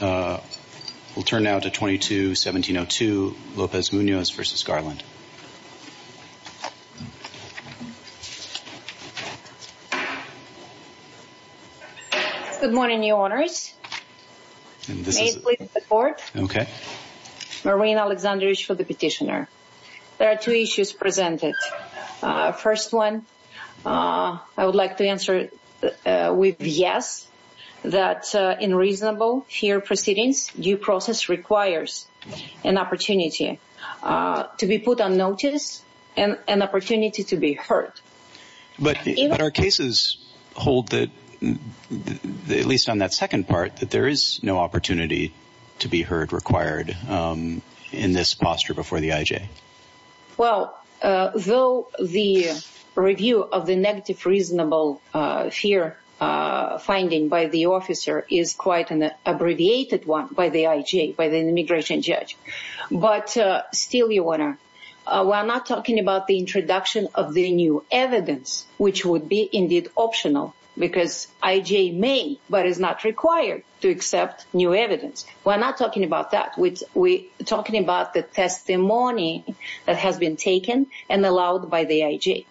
We'll turn now to 22-1702, Lopez-Munoz v. Garland. Good morning, Your Honors. May it please the Court? Okay. Marina Alexandrovich for the Petitioner. There are two issues presented. First one, I would like to answer with yes, that in reasonable fear proceedings, due process requires an opportunity to be put on notice and an opportunity to be heard. But our cases hold that, at least on that second part, that there is no opportunity to be heard required in this posture before the IJ. Well, though the review of the negative reasonable fear finding by the officer is quite an abbreviated one by the IJ, by the immigration judge. But still, Your Honor, we're not talking about the introduction of the new evidence, which would be indeed optional, because IJ may, but is not required to accept new evidence. We're not talking about that. We're talking about the testimony that has been taken and allowed by the IJ.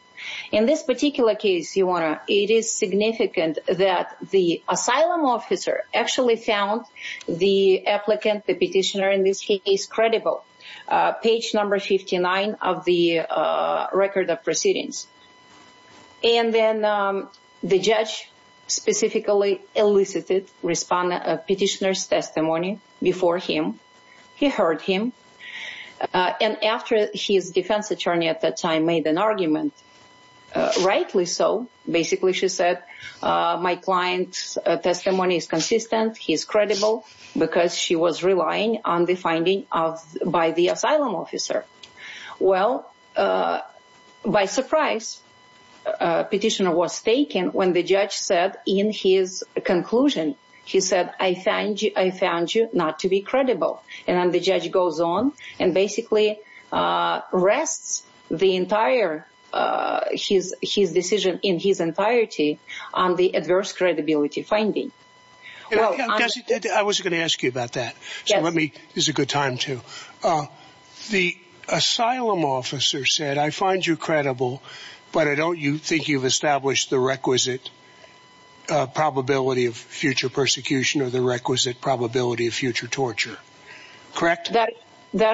In this particular case, Your Honor, it is significant that the asylum officer actually found the applicant, the petitioner in this case, credible. Page number 59 of the Record of Proceedings. And then the judge specifically elicited petitioner's testimony before him. He heard him. And after his defense attorney at that time made an argument, rightly so, basically she said, my client's testimony is consistent. He is credible because she was relying on the finding by the asylum officer. Well, by surprise, petitioner was taken when the judge said in his conclusion, he said, I found you not to be credible. And then the judge goes on and basically rests the entire his decision in his entirety on the adverse credibility finding. I was going to ask you about that. Let me. This is a good time to. The asylum officer said, I find you credible, but I don't think you've established the requisite probability of future persecution or the requisite probability of future torture. Correct? That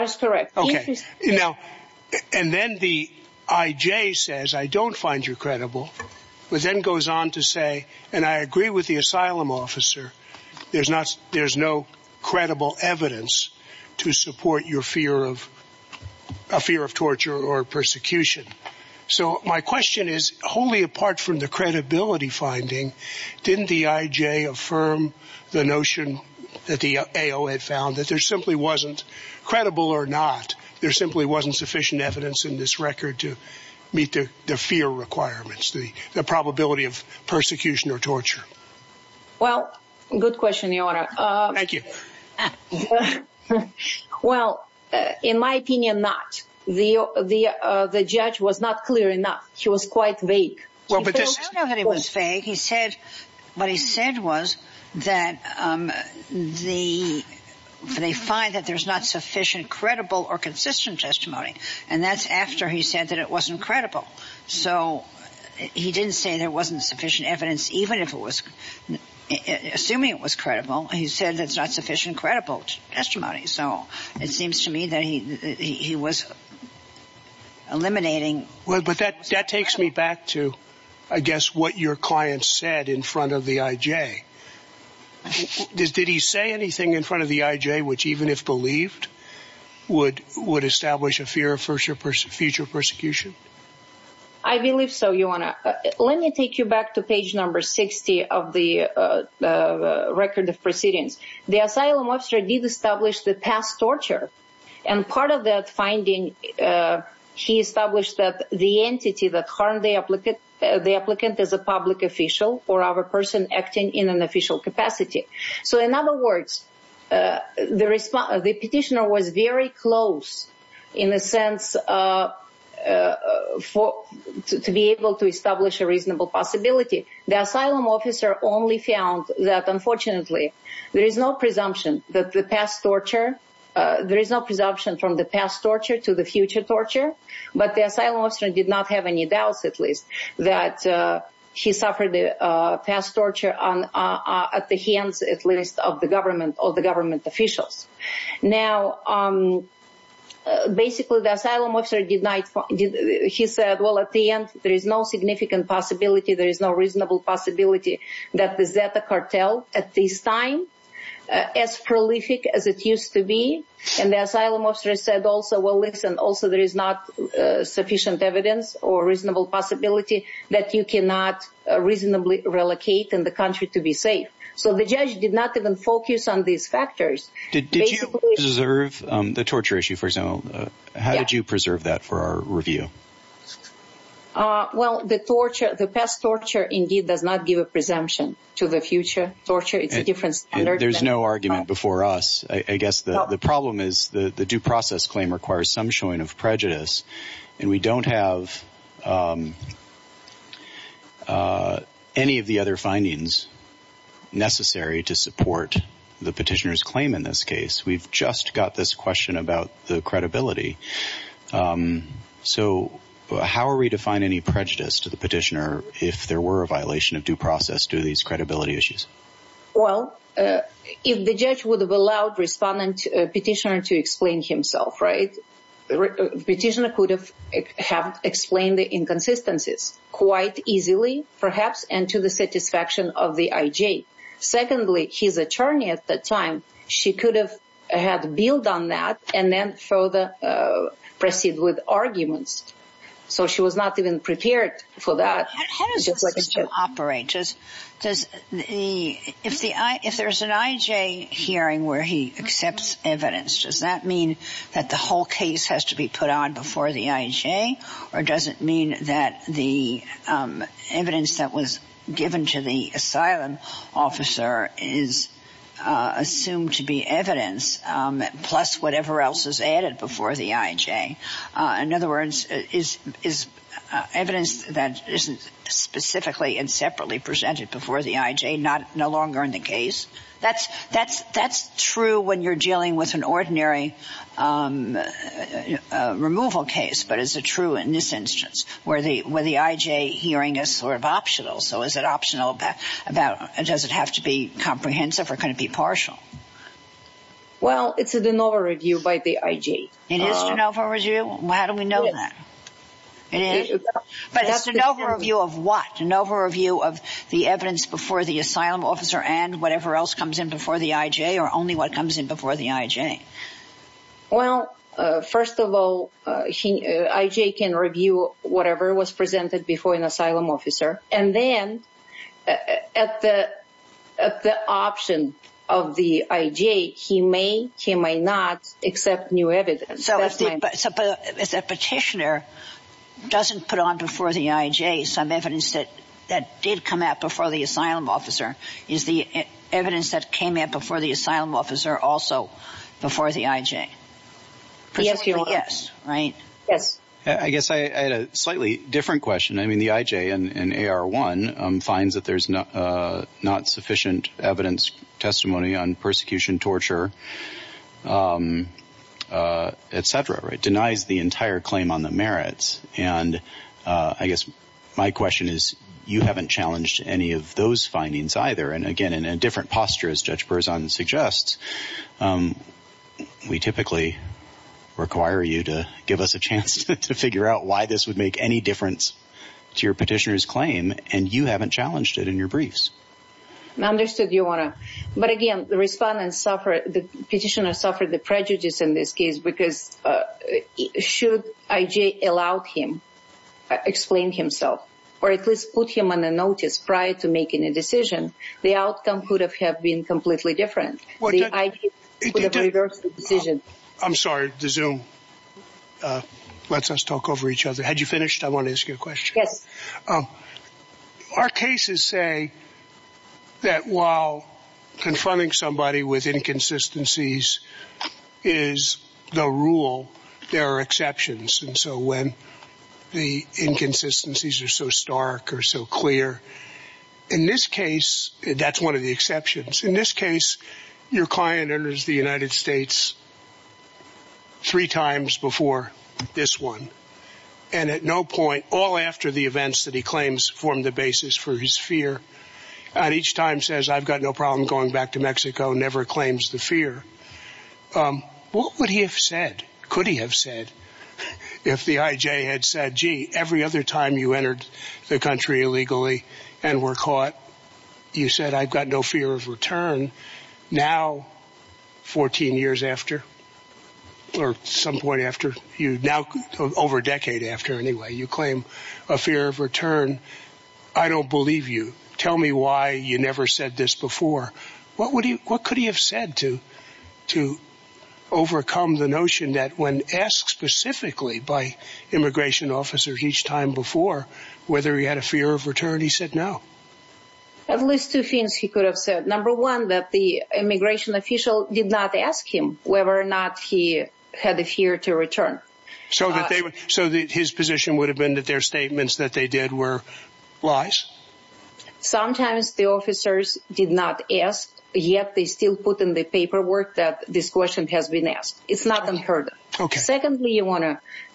is correct. And then the IJ says, I don't find you credible, but then goes on to say, and I agree with the asylum officer. There's not there's no credible evidence to support your fear of a fear of torture or persecution. So my question is, wholly apart from the credibility finding, didn't the IJ affirm the notion that the AO had found that there simply wasn't credible or not? There simply wasn't sufficient evidence in this record to meet the fear requirements, the probability of persecution or torture. Well, good question, your honor. Thank you. Well, in my opinion, not the the the judge was not clear enough. She was quite vague. Well, but I know that it was vague. He said what he said was that the they find that there's not sufficient, credible or consistent testimony. And that's after he said that it wasn't credible. So he didn't say there wasn't sufficient evidence, even if it was assuming it was credible. He said that's not sufficient, credible testimony. So it seems to me that he he was eliminating. Well, but that that takes me back to, I guess, what your client said in front of the IJ. Did he say anything in front of the IJ, which even if believed would would establish a fear of future persecution? I believe so. Your Honor, let me take you back to page number 60 of the record of proceedings. The asylum officer did establish the past torture. And part of that finding, he established that the entity that harmed the applicant, the applicant is a public official or other person acting in an official capacity. So, in other words, the petitioner was very close in a sense for to be able to establish a reasonable possibility. The asylum officer only found that, unfortunately, there is no presumption that the past torture, there is no presumption from the past torture to the future torture. But the asylum officer did not have any doubts, at least, that he suffered the past torture at the hands, at least, of the government or the government officials. Now, basically, the asylum officer denied. He said, well, at the end, there is no significant possibility. There is no reasonable possibility that the Zeta cartel at this time, as prolific as it used to be. And the asylum officer said also, well, listen, also, there is not sufficient evidence or reasonable possibility that you cannot reasonably relocate in the country to be safe. So, the judge did not even focus on these factors. Did you preserve the torture issue, for example? How did you preserve that for our review? Well, the torture, the past torture, indeed, does not give a presumption to the future torture. It's a different standard. There's no argument before us. I guess the problem is the due process claim requires some showing of prejudice. And we don't have any of the other findings necessary to support the petitioner's claim in this case. We've just got this question about the credibility. So, how are we to find any prejudice to the petitioner if there were a violation of due process to these credibility issues? Well, if the judge would have allowed respondent petitioner to explain himself, right, petitioner could have explained the inconsistencies quite easily, perhaps, and to the satisfaction of the IJ. Secondly, his attorney at that time, she could have had a bill done that and then further proceed with arguments. So, she was not even prepared for that. How does the system operate? If there's an IJ hearing where he accepts evidence, does that mean that the whole case has to be put on before the IJ? Or does it mean that the evidence that was given to the asylum officer is assumed to be evidence plus whatever else is added before the IJ? In other words, is evidence that isn't specifically and separately presented before the IJ no longer in the case? That's true when you're dealing with an ordinary removal case, but is it true in this instance where the IJ hearing is sort of optional? So, is it optional about does it have to be comprehensive or can it be partial? Well, it's a de novo review by the IJ. It is de novo review? How do we know that? But it's a de novo review of what? De novo review of the evidence before the asylum officer and whatever else comes in before the IJ or only what comes in before the IJ? Well, first of all, IJ can review whatever was presented before an asylum officer. And then at the option of the IJ, he may, he may not accept new evidence. So, if the petitioner doesn't put on before the IJ some evidence that did come out before the asylum officer, is the evidence that came out before the asylum officer also before the IJ? Yes. Right? Yes. I guess I had a slightly different question. I mean, the IJ in AR1 finds that there's not sufficient evidence testimony on persecution, torture, et cetera. It denies the entire claim on the merits. And I guess my question is you haven't challenged any of those findings either. And again, in a different posture, as Judge Berzon suggests, we typically require you to give us a chance to figure out why this would make any difference to your petitioner's claim. And you haven't challenged it in your briefs. I understood you want to. But again, the respondents suffered, the petitioner suffered the prejudice in this case because should IJ allow him, explain himself, or at least put him on a notice prior to making a decision, the outcome could have been completely different. The IJ could have reversed the decision. I'm sorry, the Zoom lets us talk over each other. Had you finished? I want to ask you a question. Yes. Our cases say that while confronting somebody with inconsistencies is the rule, there are exceptions. And so when the inconsistencies are so stark or so clear, in this case, that's one of the exceptions. In this case, your client enters the United States three times before this one. And at no point, all after the events that he claims form the basis for his fear, at each time says, I've got no problem going back to Mexico, never claims the fear. What would he have said, could he have said, if the IJ had said, gee, every other time you entered the country illegally and were caught, you said, I've got no fear of return. Now, 14 years after, or some point after, now over a decade after, anyway, you claim a fear of return. I don't believe you. Tell me why you never said this before. What could he have said to overcome the notion that when asked specifically by immigration officers each time before whether he had a fear of return, he said no? At least two things he could have said. Number one, that the immigration official did not ask him whether or not he had a fear to return. So his position would have been that their statements that they did were lies? Sometimes the officers did not ask, yet they still put in the paperwork that this question has been asked. It's not unheard of. Secondly,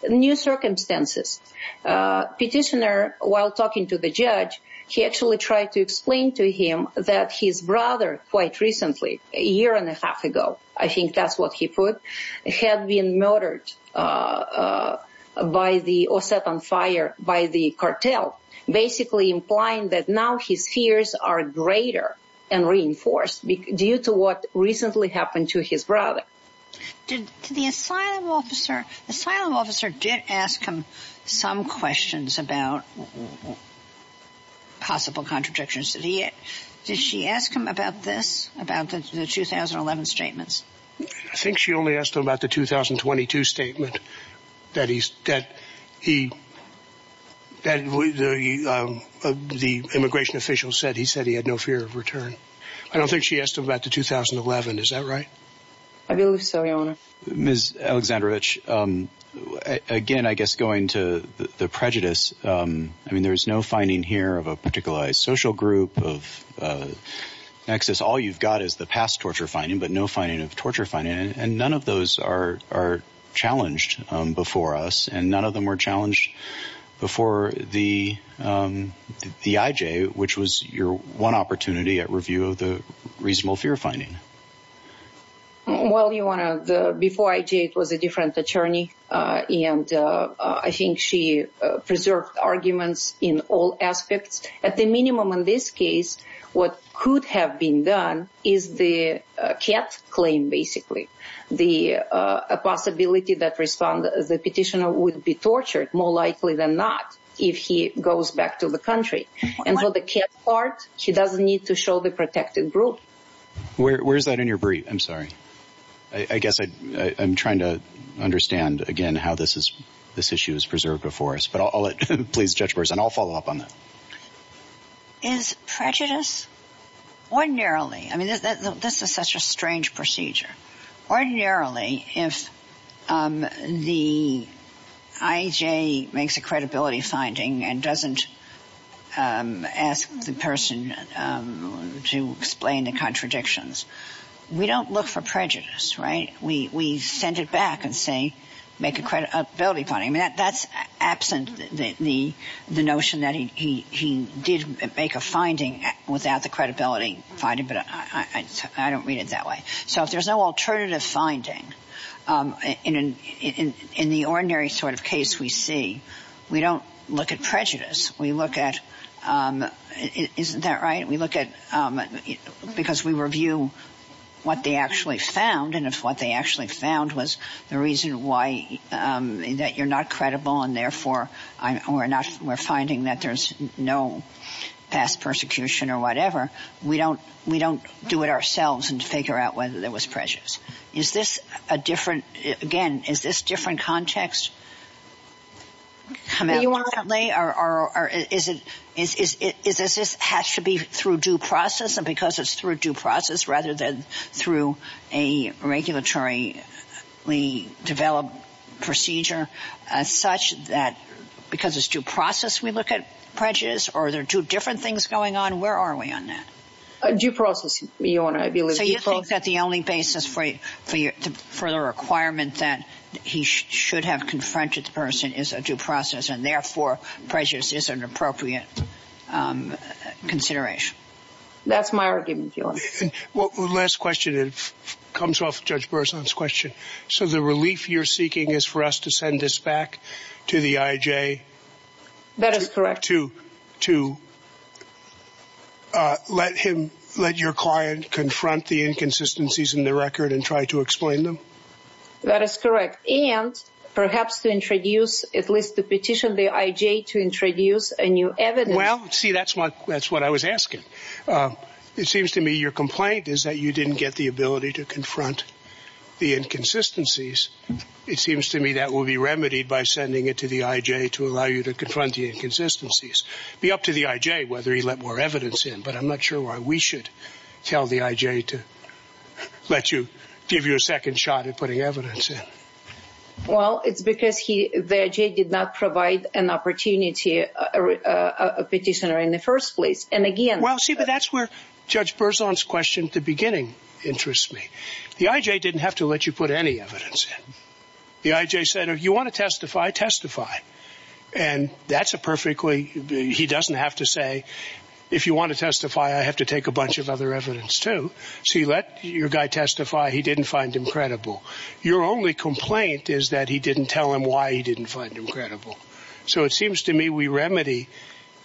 new circumstances. Petitioner, while talking to the judge, he actually tried to explain to him that his brother, quite recently, a year and a half ago, I think that's what he put, had been murdered or set on fire by the cartel, basically implying that now his fears are greater and reinforced due to what recently happened to his brother. The asylum officer did ask him some questions about possible contradictions. Did she ask him about this, about the 2011 statements? I think she only asked him about the 2022 statement that the immigration official said he said he had no fear of return. I don't think she asked him about the 2011. Is that right? I believe so, Your Honor. Ms. Aleksandrovich, again, I guess going to the prejudice, I mean, there's no finding here of a particular social group of nexus. All you've got is the past torture finding, but no finding of torture finding, and none of those are challenged before us, and none of them were challenged before the IJ, which was your one opportunity at review of the reasonable fear finding. Well, Your Honor, before IJ, it was a different attorney, and I think she preserved arguments in all aspects. At the minimum, in this case, what could have been done is the cat claim, basically. The possibility that the petitioner would be tortured, more likely than not, if he goes back to the country. And for the cat part, she doesn't need to show the protected group. Where's that in your brief? I'm sorry. I guess I'm trying to understand, again, how this issue is preserved before us. And I'll follow up on that. Is prejudice, ordinarily, I mean, this is such a strange procedure. Ordinarily, if the IJ makes a credibility finding and doesn't ask the person to explain the contradictions, we don't look for prejudice, right? We send it back and say, make a credibility finding. I mean, that's absent the notion that he did make a finding without the credibility finding, but I don't read it that way. So if there's no alternative finding, in the ordinary sort of case we see, we don't look at prejudice. We look at, isn't that right? We look at, because we review what they actually found. And if what they actually found was the reason why, that you're not credible and therefore we're finding that there's no past persecution or whatever, we don't do it ourselves and figure out whether there was prejudice. Is this a different, again, is this different context? You want to lay, or is this has to be through due process? And because it's through due process rather than through a regulatory developed procedure as such that because it's due process we look at prejudice? Or are there two different things going on? Where are we on that? Due process, Your Honor, I believe. So you think that the only basis for the requirement that he should have confronted the person is a due process, and therefore prejudice is an appropriate consideration? That's my argument, Your Honor. Well, the last question comes off Judge Berzon's question. So the relief you're seeking is for us to send this back to the IJ? That is correct. To let him, let your client confront the inconsistencies in the record and try to explain them? That is correct. And perhaps to introduce, at least to petition the IJ to introduce a new evidence. Well, see, that's what I was asking. It seems to me your complaint is that you didn't get the ability to confront the inconsistencies. It seems to me that will be remedied by sending it to the IJ to allow you to confront the inconsistencies. Be up to the IJ whether he let more evidence in, but I'm not sure why we should tell the IJ to let you, give you a second shot at putting evidence in. Well, it's because he, the IJ did not provide an opportunity, a petitioner in the first place. And again... Well, see, but that's where Judge Berzon's question at the beginning interests me. The IJ didn't have to let you put any evidence in. The IJ said, if you want to testify, testify. And that's a perfectly, he doesn't have to say, if you want to testify, I have to take a bunch of other evidence too. So you let your guy testify. He didn't find him credible. Your only complaint is that he didn't tell him why he didn't find him credible. So it seems to me we remedy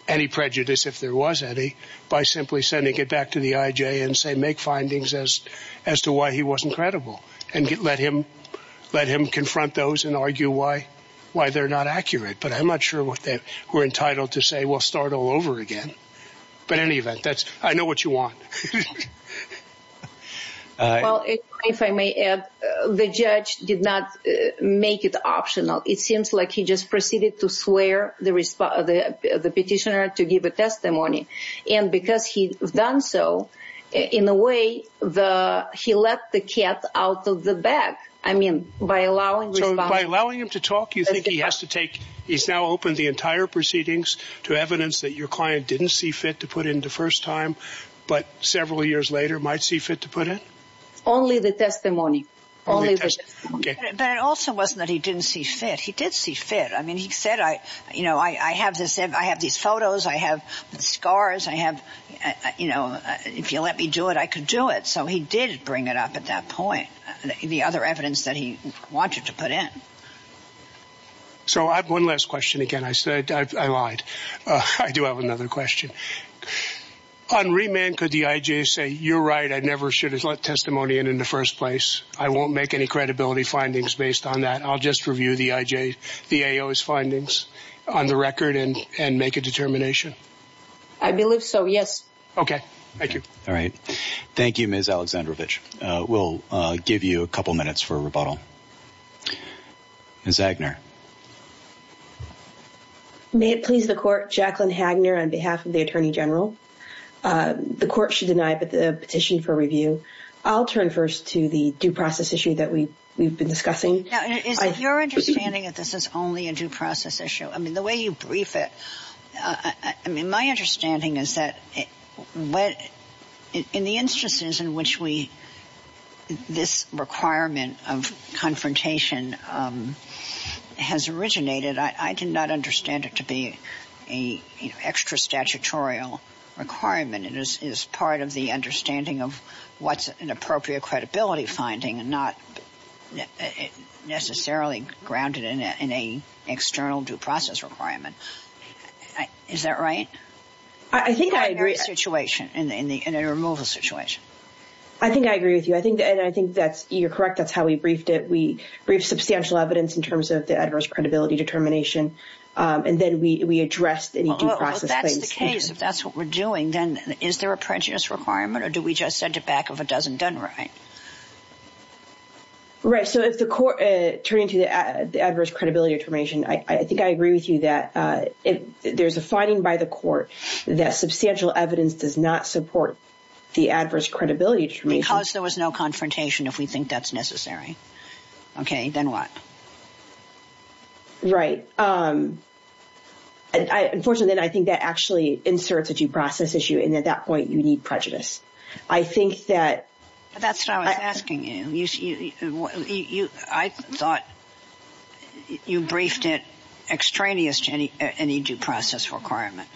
any prejudice, if there was any, by simply sending it back to the IJ and say, make findings as to why he wasn't credible. And let him confront those and argue why they're not accurate. But I'm not sure that we're entitled to say, well, start all over again. But in any event, I know what you want. Well, if I may add, the judge did not make it optional. It seems like he just proceeded to swear the petitioner to give a testimony. And because he's done so, in a way, he let the cat out of the bag. I mean, by allowing responsibility. So by allowing him to talk, you think he has to take, he's now opened the entire proceedings to evidence that your client didn't see fit to put in the first time, but several years later might see fit to put in? Only the testimony. Only the testimony. But it also wasn't that he didn't see fit. He did see fit. I mean, he said, you know, I have this. I have these photos. I have scars. I have, you know, if you let me do it, I could do it. So he did bring it up at that point, the other evidence that he wanted to put in. So I have one last question. Again, I said I lied. I do have another question. On remand, could the IJ say, you're right. I never should have let testimony in in the first place. I won't make any credibility findings based on that. I'll just review the IJ, the AO's findings on the record and make a determination. I believe so, yes. Okay. Thank you. All right. Thank you, Ms. Aleksandrovich. We'll give you a couple minutes for rebuttal. Ms. Agner. May it please the court, Jacqueline Agner on behalf of the Attorney General. The court should deny the petition for review. I'll turn first to the due process issue that we've been discussing. Now, is it your understanding that this is only a due process issue? I mean, the way you brief it, I mean, my understanding is that in the instances in which we, this requirement of confrontation has originated, I did not understand it to be an extra statutorial requirement. It is part of the understanding of what's an appropriate credibility finding and not necessarily grounded in an external due process requirement. Is that right? I think I agree. In a removal situation. I think I agree with you, and I think that you're correct. That's how we briefed it. We briefed substantial evidence in terms of the adverse credibility determination, and then we addressed any due process claims. If that's the case, if that's what we're doing, then is there a prejudice requirement, or do we just send it back if it doesn't done right? Right. So if the court turned to the adverse credibility determination, I think I agree with you that there's a finding by the court that substantial evidence does not support the adverse credibility determination. Because there was no confrontation if we think that's necessary. Okay. Then what? Right. Unfortunately, I think that actually inserts a due process issue, and at that point you need prejudice. I think that. That's what I was asking you. I thought you briefed it extraneous to any due process requirement.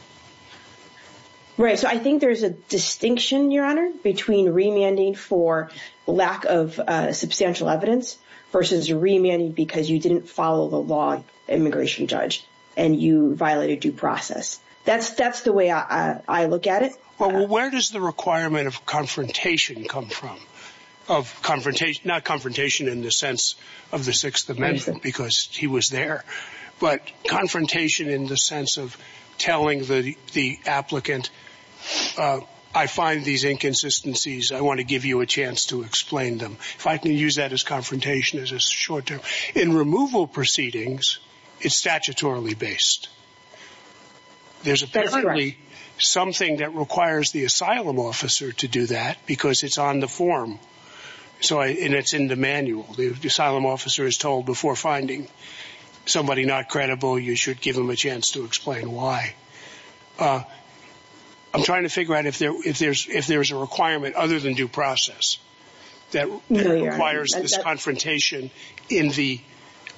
Right. So I think there's a distinction, Your Honor, between remanding for lack of substantial evidence versus remanding because you didn't follow the law immigration judge, and you violated due process. That's the way I look at it. Well, where does the requirement of confrontation come from? Not confrontation in the sense of the Sixth Amendment because he was there, but confrontation in the sense of telling the applicant, I find these inconsistencies. I want to give you a chance to explain them. If I can use that as confrontation as a short term. In removal proceedings, it's statutorily based. There's apparently something that requires the asylum officer to do that because it's on the form, and it's in the manual. The asylum officer is told before finding somebody not credible, you should give them a chance to explain why. I'm trying to figure out if there's a requirement other than due process that requires this confrontation in the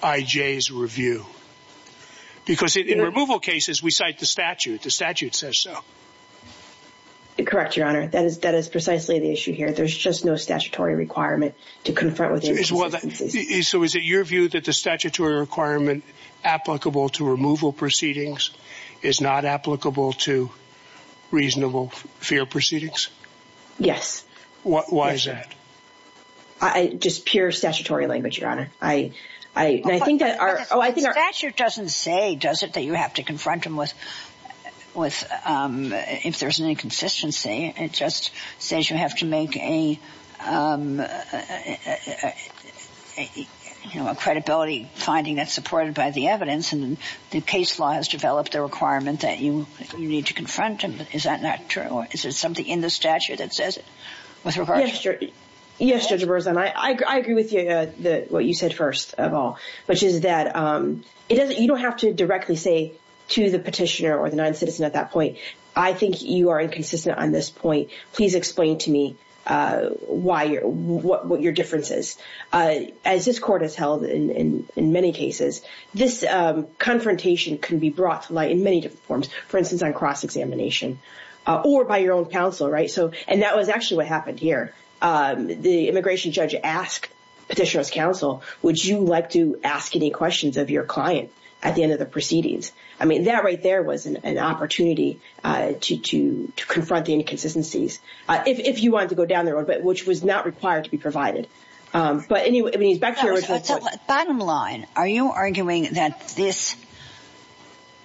IJ's review. Because in removal cases, we cite the statute. The statute says so. Correct, Your Honor. That is precisely the issue here. There's just no statutory requirement to confront with. So is it your view that the statutory requirement applicable to removal proceedings is not applicable to reasonable fair proceedings? Why is that? Just pure statutory language, Your Honor. The statute doesn't say, does it, that you have to confront them if there's an inconsistency. It just says you have to make a credibility finding that's supported by the evidence. And the case law has developed a requirement that you need to confront them. Is that not true? Is there something in the statute that says it? Yes, Judge Berzahn. I agree with what you said first of all, which is that you don't have to directly say to the petitioner or the non-citizen at that point, I think you are inconsistent on this point. Please explain to me what your difference is. As this court has held in many cases, this confrontation can be brought to light in many different forms. For instance, on cross-examination or by your own counsel. And that was actually what happened here. The immigration judge asked petitioner's counsel, would you like to ask any questions of your client at the end of the proceedings? That right there was an opportunity to confront the inconsistencies. If you wanted to go down the road, which was not required to be provided. Bottom line, are you arguing that this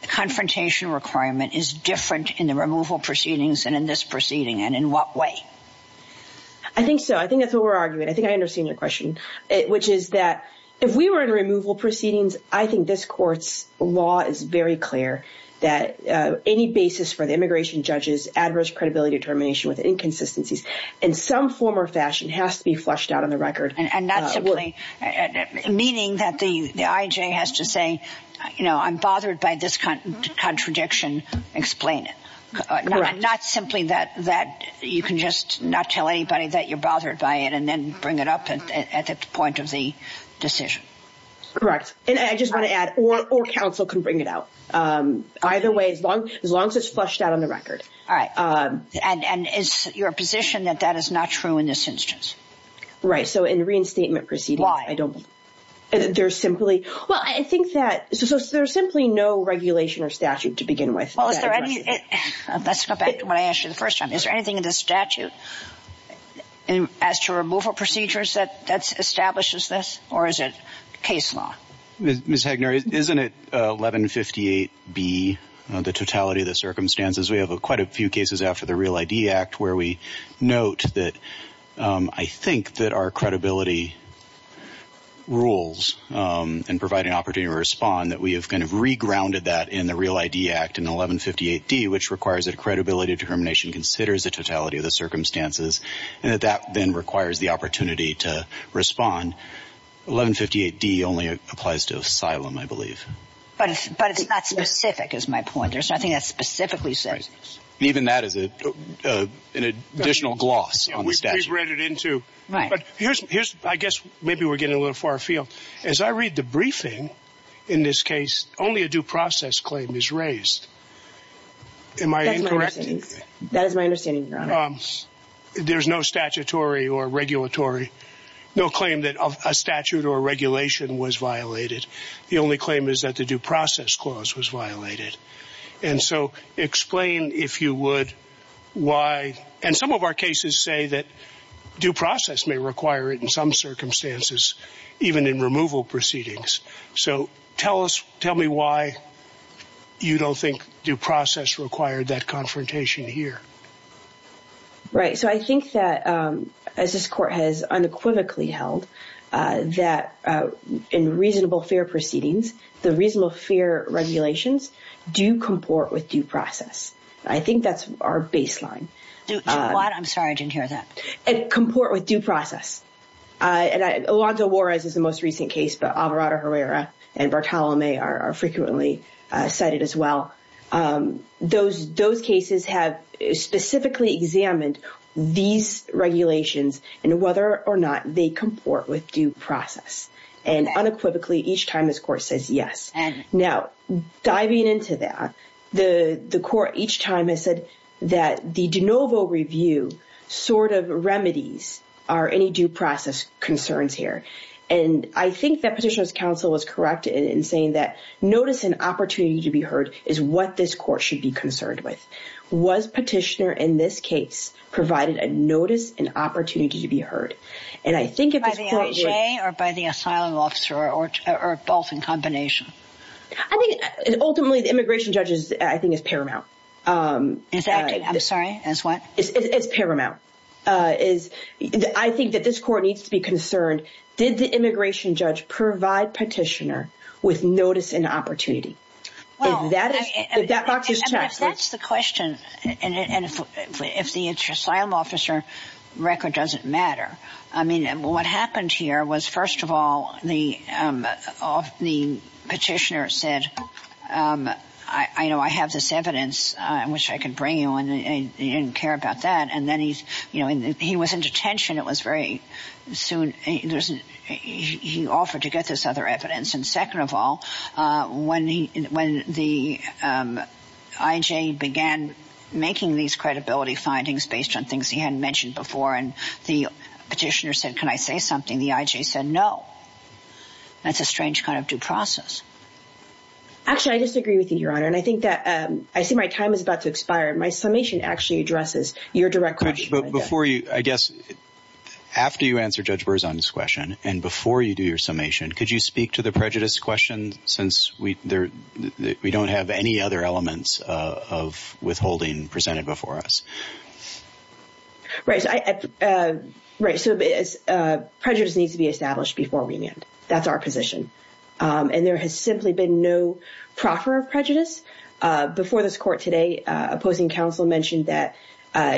confrontation requirement is different in the removal proceedings than in this proceeding? And in what way? I think so. I think that's what we're arguing. I think I understand your question, which is that if we were in removal proceedings, I think this court's law is very clear that any basis for the immigration judge's adverse credibility determination with inconsistencies in some form or fashion has to be flushed out on the record. Meaning that the IJ has to say, you know, I'm bothered by this contradiction, explain it. Correct. Not simply that you can just not tell anybody that you're bothered by it and then bring it up at the point of the decision. Correct. And I just want to add, or counsel can bring it out. Either way, as long as it's flushed out on the record. All right. And is your position that that is not true in this instance? Right. So in the reinstatement proceeding. Why? I don't know. There's simply. Well, I think that. So there's simply no regulation or statute to begin with. Let's go back to what I asked you the first time. Is there anything in this statute as to removal procedures that establishes this? Or is it case law? Ms. Hagner, isn't it 1158B, the totality of the circumstances? We have quite a few cases after the Real ID Act where we note that I think that our credibility rules and provide an opportunity to respond, that we have kind of regrounded that in the Real ID Act in 1158D, which requires that credibility of determination considers the totality of the circumstances, and that that then requires the opportunity to respond. 1158D only applies to asylum, I believe. But it's not specific is my point. Right. Even that is an additional gloss on the statute. We've read it into. Right. I guess maybe we're getting a little far afield. As I read the briefing in this case, only a due process claim is raised. Am I incorrect? That is my understanding, Your Honor. There's no statutory or regulatory, no claim that a statute or regulation was violated. The only claim is that the due process clause was violated. And so explain, if you would, why. And some of our cases say that due process may require it in some circumstances, even in removal proceedings. So tell me why you don't think due process required that confrontation here. Right. So I think that, as this court has unequivocally held, that in reasonable fair proceedings, the reasonable fair regulations do comport with due process. I think that's our baseline. I'm sorry. I didn't hear that. And comport with due process. Alonzo Juarez is the most recent case, but Alvarado Herrera and Bartolome are frequently cited as well. Those cases have specifically examined these regulations and whether or not they comport with due process. And unequivocally, each time this court says yes. Now, diving into that, the court each time has said that the de novo review sort of remedies any due process concerns here. And I think that Petitioner's counsel was correct in saying that notice and opportunity to be heard is what this court should be concerned with. Was Petitioner, in this case, provided a notice and opportunity to be heard? By the NJ or by the asylum officer or both in combination? Ultimately, the immigration judge, I think, is paramount. I'm sorry, is what? It's paramount. I think that this court needs to be concerned. Did the immigration judge provide Petitioner with notice and opportunity? Well, that's the question. And if the asylum officer record doesn't matter, I mean, what happened here was, first of all, the petitioner said, I know I have this evidence. I wish I could bring you and you didn't care about that. And then he was in detention. It was very soon. He offered to get this other evidence. And second of all, when the IJ began making these credibility findings based on things he hadn't mentioned before and the petitioner said, can I say something? The IJ said no. That's a strange kind of due process. Actually, I disagree with you, Your Honor. And I think that I see my time is about to expire. My summation actually addresses your direct question. But before you, I guess, after you answer Judge Berzon's question and before you do your summation, could you speak to the prejudice question since we don't have any other elements of withholding presented before us? Right. So prejudice needs to be established before remand. That's our position. And there has simply been no proffer of prejudice. Before this court today, opposing counsel mentioned that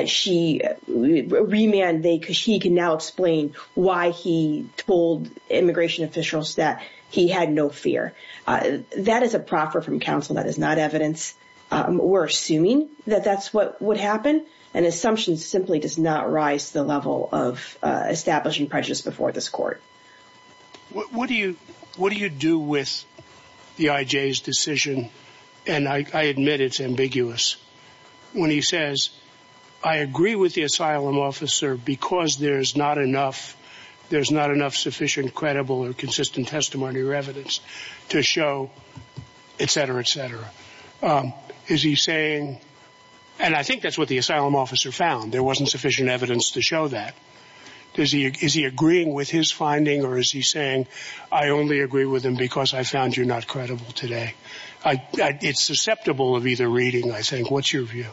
she remanded because she can now explain why he told immigration officials that he had no fear. That is a proffer from counsel. That is not evidence. We're assuming that that's what would happen. And assumption simply does not rise to the level of establishing prejudice before this court. What do you do with the IJ's decision, and I admit it's ambiguous, when he says, I agree with the asylum officer because there's not enough sufficient credible or consistent testimony or evidence to show, et cetera, et cetera. Is he saying, and I think that's what the asylum officer found. There wasn't sufficient evidence to show that. Is he agreeing with his finding, or is he saying, I only agree with him because I found you not credible today? It's susceptible of either reading, I think. What's your view?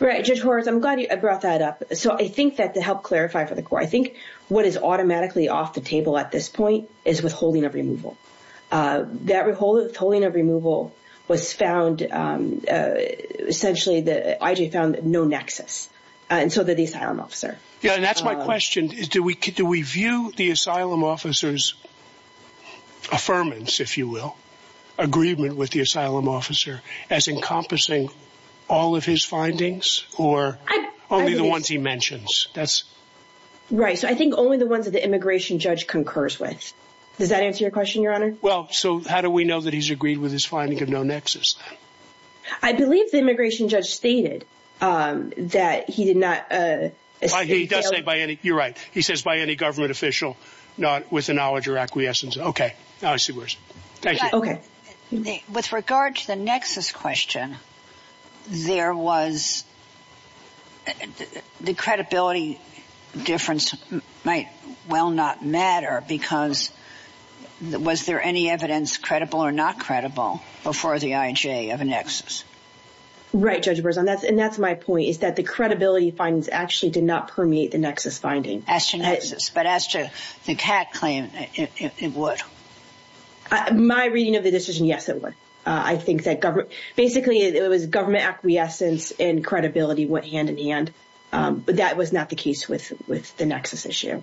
Right. Judge Horwitz, I'm glad you brought that up. So I think that to help clarify for the court, I think what is automatically off the table at this point is withholding of removal. That withholding of removal was found, essentially, the IJ found no nexus. And so did the asylum officer. Yeah, and that's my question. Do we view the asylum officer's affirmance, if you will, agreement with the asylum officer as encompassing all of his findings or only the ones he mentions? Right. So I think only the ones that the immigration judge concurs with. Does that answer your question, Your Honor? Well, so how do we know that he's agreed with his finding of no nexus? I believe the immigration judge stated that he did not. He does say by any. You're right. He says by any government official, not with the knowledge or acquiescence. OK. Now I see where it's. OK. With regard to the nexus question, there was. The credibility difference might well not matter because was there any evidence credible or not credible before the IJ of a nexus? Right. And that's my point is that the credibility findings actually did not permeate the nexus finding. But as to the cat claim, it would. My reading of the decision, yes, it would. I think that basically it was government acquiescence and credibility went hand in hand. But that was not the case with with the nexus issue.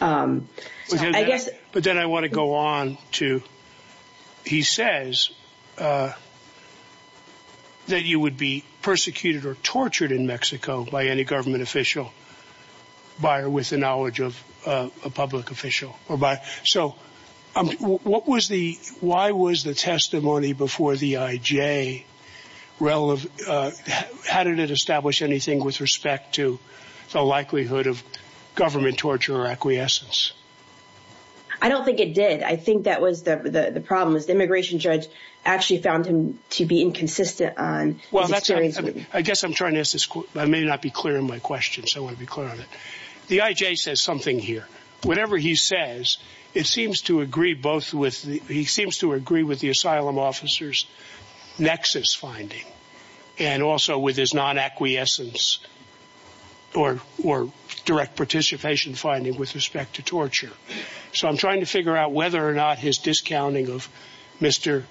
I guess. But then I want to go on to. He says. That you would be persecuted or tortured in Mexico by any government official. Buyer with the knowledge of a public official or by. So what was the why was the testimony before the IJ relevant? How did it establish anything with respect to the likelihood of government torture or acquiescence? I don't think it did. I think that was the problem is the immigration judge actually found him to be inconsistent on. Well, I guess I'm trying to ask this. I may not be clear in my question, so I want to be clear on it. The IJ says something here. Whatever he says, it seems to agree both with he seems to agree with the asylum officers nexus finding. And also with his non acquiescence. Or or direct participation finding with respect to torture. So I'm trying to figure out whether or not his discounting of Mr.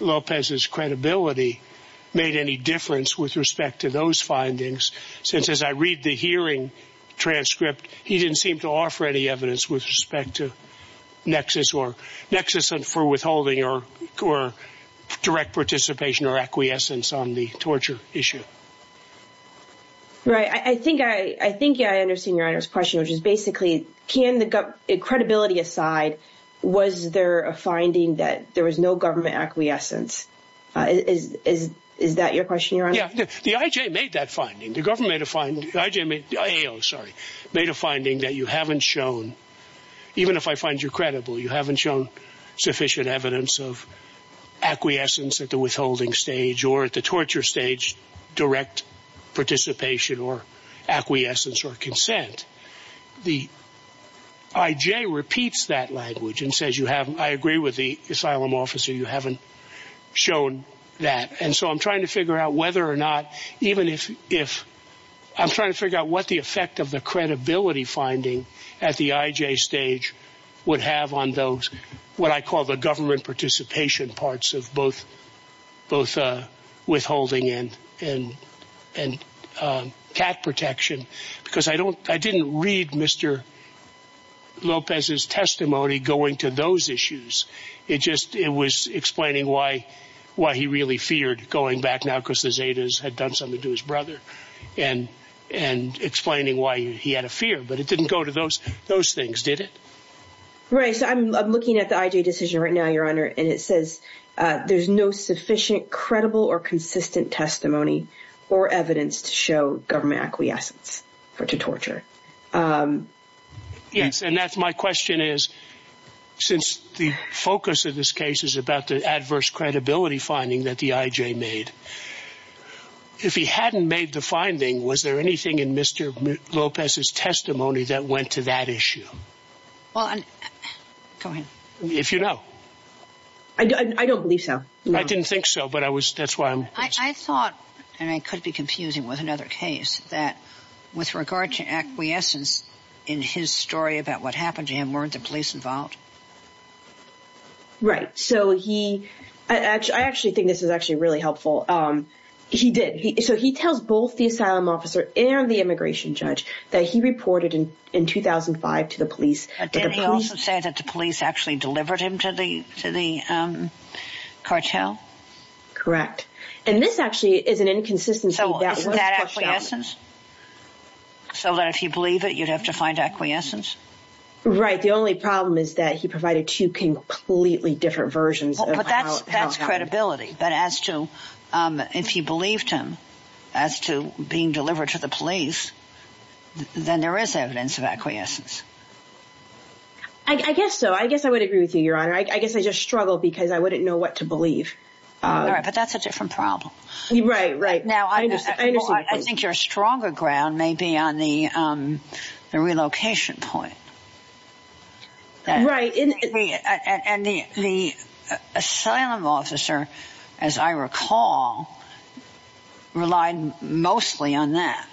Lopez's credibility made any difference with respect to those findings. Since as I read the hearing transcript, he didn't seem to offer any evidence with respect to nexus or nexus. And for withholding or or direct participation or acquiescence on the torture issue. Right. I think I I think I understand your honor's question, which is basically, can the credibility aside, was there a finding that there was no government acquiescence? Is is is that your question? Yeah. The IJ made that finding. The government made a fine. I mean, sorry, made a finding that you haven't shown. Even if I find you credible, you haven't shown sufficient evidence of acquiescence at the withholding stage or at the torture stage, direct participation or acquiescence or consent. The IJ repeats that language and says you have. I agree with the asylum officer. You haven't shown that. And so I'm trying to figure out whether or not even if if I'm trying to figure out what the effect of the credibility finding at the IJ stage would have on those what I call the government participation parts of both both withholding and and and cat protection. Because I don't I didn't read Mr. Lopez's testimony going to those issues. It just it was explaining why why he really feared going back now because the Zetas had done something to his brother and and explaining why he had a fear. But it didn't go to those those things, did it? Right. So I'm looking at the IJ decision right now, Your Honor. And it says there's no sufficient, credible or consistent testimony or evidence to show government acquiescence or to torture. Yes. And that's my question is, since the focus of this case is about the adverse credibility finding that the IJ made. If he hadn't made the finding, was there anything in Mr. Lopez's testimony that went to that issue? Well, if you know, I don't believe so. I didn't think so. But I was. That's why I thought. And I could be confusing with another case that with regard to acquiescence in his story about what happened to him, weren't the police involved? Right. So he actually I actually think this is actually really helpful. He did. So he tells both the asylum officer and the immigration judge that he reported in 2005 to the police. Did he also say that the police actually delivered him to the to the cartel? Correct. And this actually is an inconsistency. So isn't that acquiescence? So that if you believe it, you'd have to find acquiescence. Right. The only problem is that he provided two completely different versions. But that's that's credibility. But as to if you believed him as to being delivered to the police, then there is evidence of acquiescence. I guess so. I guess I would agree with you, Your Honor. I guess I just struggle because I wouldn't know what to believe. But that's a different problem. Right. Right. Now, I think your stronger ground may be on the relocation point. Right. And the asylum officer, as I recall, relied mostly on that.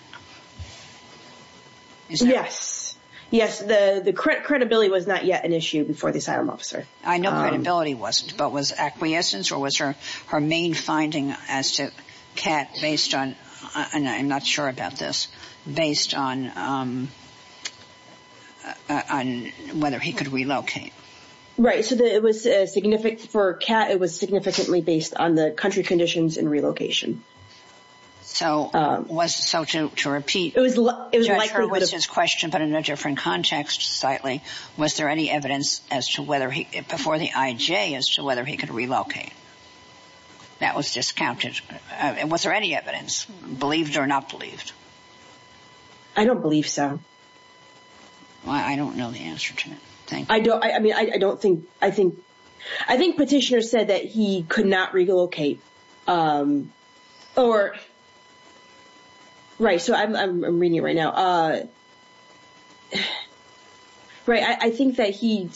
Yes. Yes. The credibility was not yet an issue before the asylum officer. I know credibility wasn't. But was acquiescence or was her her main finding as to Kat based on and I'm not sure about this, based on. On whether he could relocate. Right. So it was significant for Kat. It was significantly based on the country conditions and relocation. So was so to repeat, it was it was his question, but in a different context slightly. Was there any evidence as to whether he before the IJ as to whether he could relocate? That was discounted. And was there any evidence believed or not believed? I don't believe so. I don't know the answer to it. I don't I mean, I don't think I think I think petitioners said that he could not relocate or. Right. So I'm reading it right now. Right. I think that he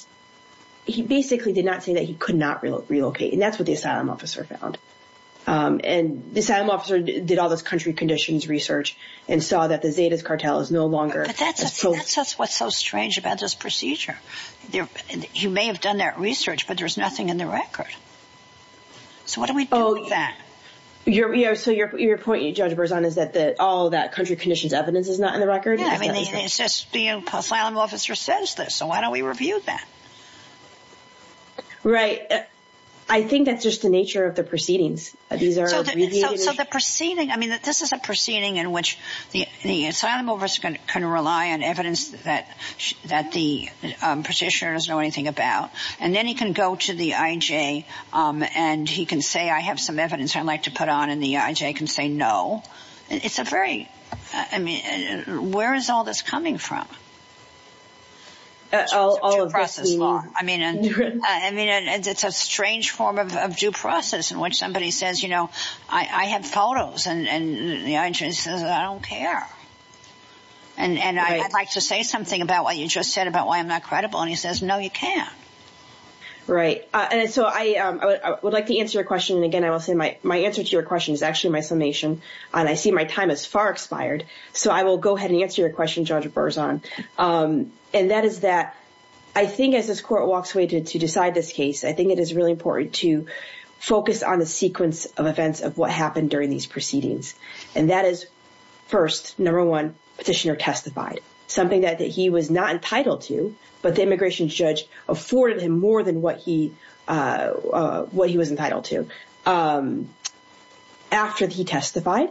he basically did not say that he could not relocate. And that's what the asylum officer found. And the asylum officer did all this country conditions research and saw that the Zetas cartel is no longer. That's that's what's so strange about this procedure. You may have done that research, but there's nothing in the record. So what do we do with that? So your point, Judge Berzon, is that that all that country conditions evidence is not in the record. I mean, it's just the asylum officer says this. So why don't we review that? Right. I think that's just the nature of the proceedings. So the proceeding. I mean, this is a proceeding in which the asylum over can rely on evidence that that the petitioner doesn't know anything about. And then he can go to the IJ and he can say, I have some evidence I'd like to put on and the IJ can say no. It's a very I mean, where is all this coming from? I mean, I mean, it's a strange form of due process in which somebody says, you know, I have photos and the IJ says I don't care. And I'd like to say something about what you just said about why I'm not credible. And he says, no, you can't. Right. And so I would like to answer your question. And again, I will say my my answer to your question is actually my summation. And I see my time is far expired. So I will go ahead and answer your question, Judge Berzon. And that is that I think as this court walks away to decide this case, I think it is really important to focus on the sequence of events of what happened during these proceedings. And that is first, number one, petitioner testified something that he was not entitled to. But the immigration judge afforded him more than what he what he was entitled to. After he testified,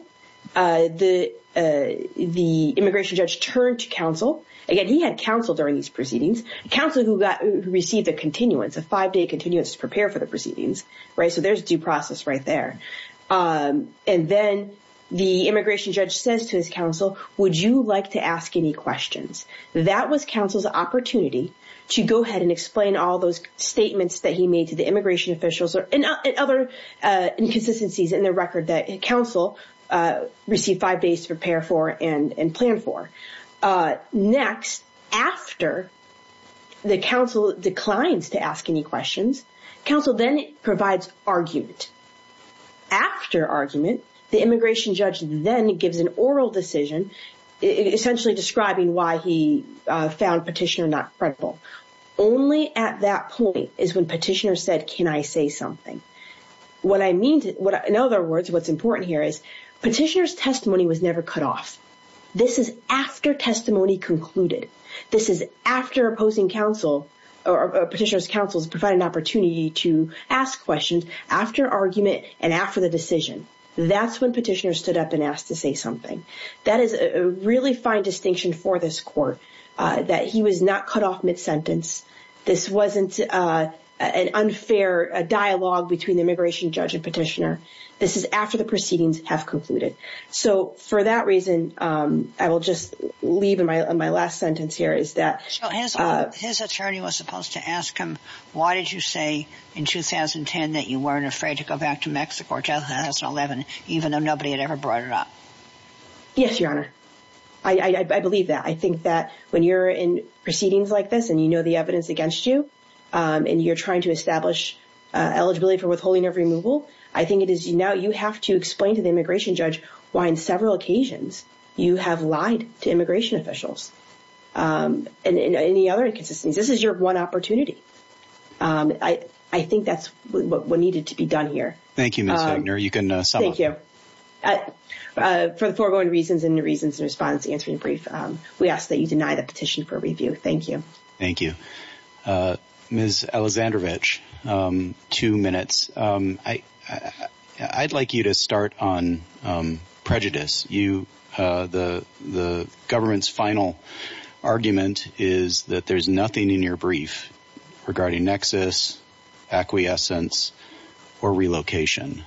the the immigration judge turned to counsel. Again, he had counsel during these proceedings. Counsel who received a continuance, a five day continuance to prepare for the proceedings. Right. So there's due process right there. And then the immigration judge says to his counsel, would you like to ask any questions? That was counsel's opportunity to go ahead and explain all those statements that he made to the immigration officials. And other inconsistencies in the record that counsel received five days to prepare for and plan for. Next, after the counsel declines to ask any questions, counsel then provides argument. After argument, the immigration judge then gives an oral decision, essentially describing why he found petitioner not credible. Only at that point is when petitioner said, can I say something? What I mean, in other words, what's important here is petitioner's testimony was never cut off. This is after testimony concluded. This is after opposing counsel or petitioner's counsel's provided an opportunity to ask questions. After argument and after the decision, that's when petitioner stood up and asked to say something. That is a really fine distinction for this court that he was not cut off mid-sentence. This wasn't an unfair dialogue between the immigration judge and petitioner. This is after the proceedings have concluded. So for that reason, I will just leave in my last sentence here is that his attorney was supposed to ask him. Why did you say in 2010 that you weren't afraid to go back to Mexico or 2011, even though nobody had ever brought it up? Yes, Your Honor. I believe that. I think that when you're in proceedings like this and you know the evidence against you, and you're trying to establish eligibility for withholding of removal, I think it is now you have to explain to the immigration judge why on several occasions you have lied to immigration officials. And in any other inconsistencies, this is your one opportunity. I think that's what needed to be done here. Thank you, Ms. Wagner. You can sum up. Thank you. For the foregoing reasons and the reasons in response to answering your brief, we ask that you deny the petition for review. Thank you. Thank you. Ms. Aleksandrovich, two minutes. I'd like you to start on prejudice. The government's final argument is that there's nothing in your brief regarding nexus, acquiescence, or relocation.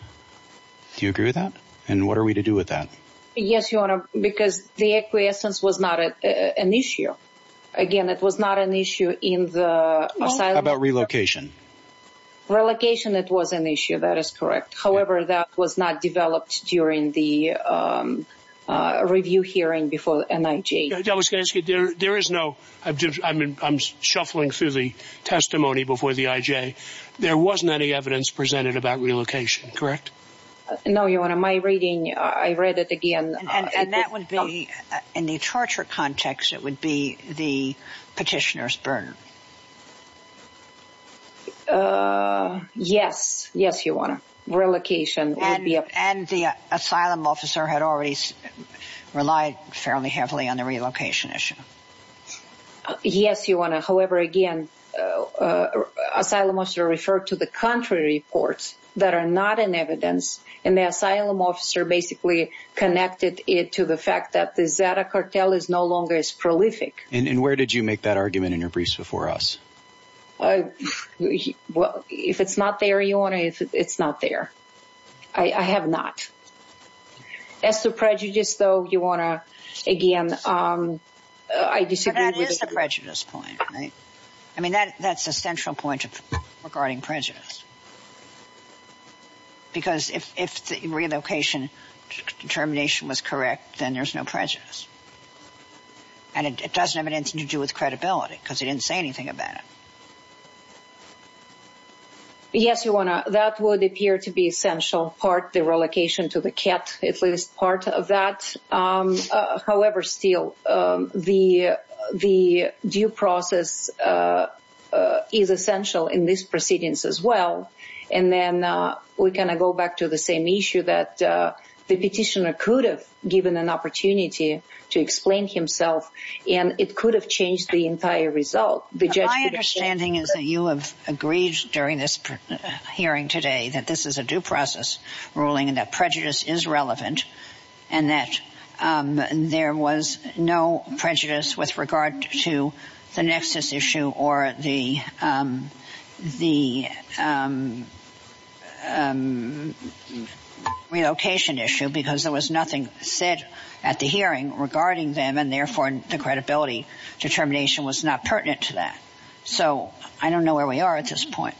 Do you agree with that? And what are we to do with that? Yes, Your Honor, because the acquiescence was not an issue. Again, it was not an issue in the asylum. How about relocation? Relocation, it was an issue. That is correct. However, that was not developed during the review hearing before NIJ. I'm shuffling through the testimony before the IJ. There wasn't any evidence presented about relocation, correct? No, Your Honor. My reading, I read it again. And that would be, in the torture context, it would be the petitioner's burden. Yes, Your Honor. Relocation would be a burden. And the asylum officer had already relied fairly heavily on the relocation issue. Yes, Your Honor. However, again, asylum officer referred to the contrary reports that are not in evidence. And the asylum officer basically connected it to the fact that the Zeta cartel is no longer as prolific. And where did you make that argument in your briefs before us? Well, if it's not there, Your Honor, it's not there. I have not. As to prejudice, though, Your Honor, again, I disagree with it. But that is the prejudice point, right? I mean, that's a central point regarding prejudice. Because if the relocation determination was correct, then there's no prejudice. And it doesn't have anything to do with credibility, because they didn't say anything about it. Yes, Your Honor. That would appear to be essential part, the relocation to the cat, at least part of that. However, still, the due process is essential in this proceedings as well. And then we kind of go back to the same issue that the petitioner could have given an opportunity to explain himself. And it could have changed the entire result. My understanding is that you have agreed during this hearing today that this is a due process ruling and that prejudice is relevant. And that there was no prejudice with regard to the nexus issue or the relocation issue. Because there was nothing said at the hearing regarding them. And therefore, the credibility determination was not pertinent to that. So I don't know where we are at this point.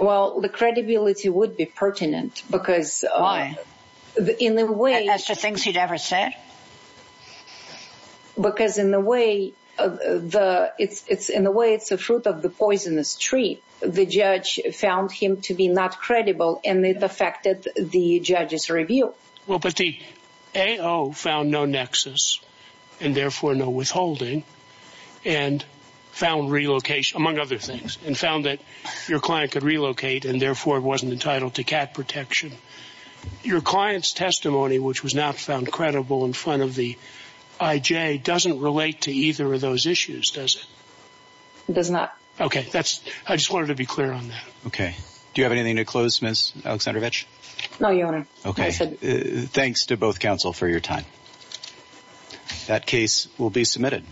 Well, the credibility would be pertinent. Why? As to things he'd ever said? Because in a way, it's the fruit of the poisonous tree. The judge found him to be not credible, and it affected the judge's review. Well, but the AO found no nexus and therefore no withholding and found relocation, among other things, and found that your client could relocate and therefore wasn't entitled to cat protection. Your client's testimony, which was not found credible in front of the IJ, doesn't relate to either of those issues, does it? It does not. Okay. I just wanted to be clear on that. Okay. Do you have anything to close, Ms. Aleksandrovich? No, Your Honor. Okay. Thanks to both counsel for your time. That case will be submitted.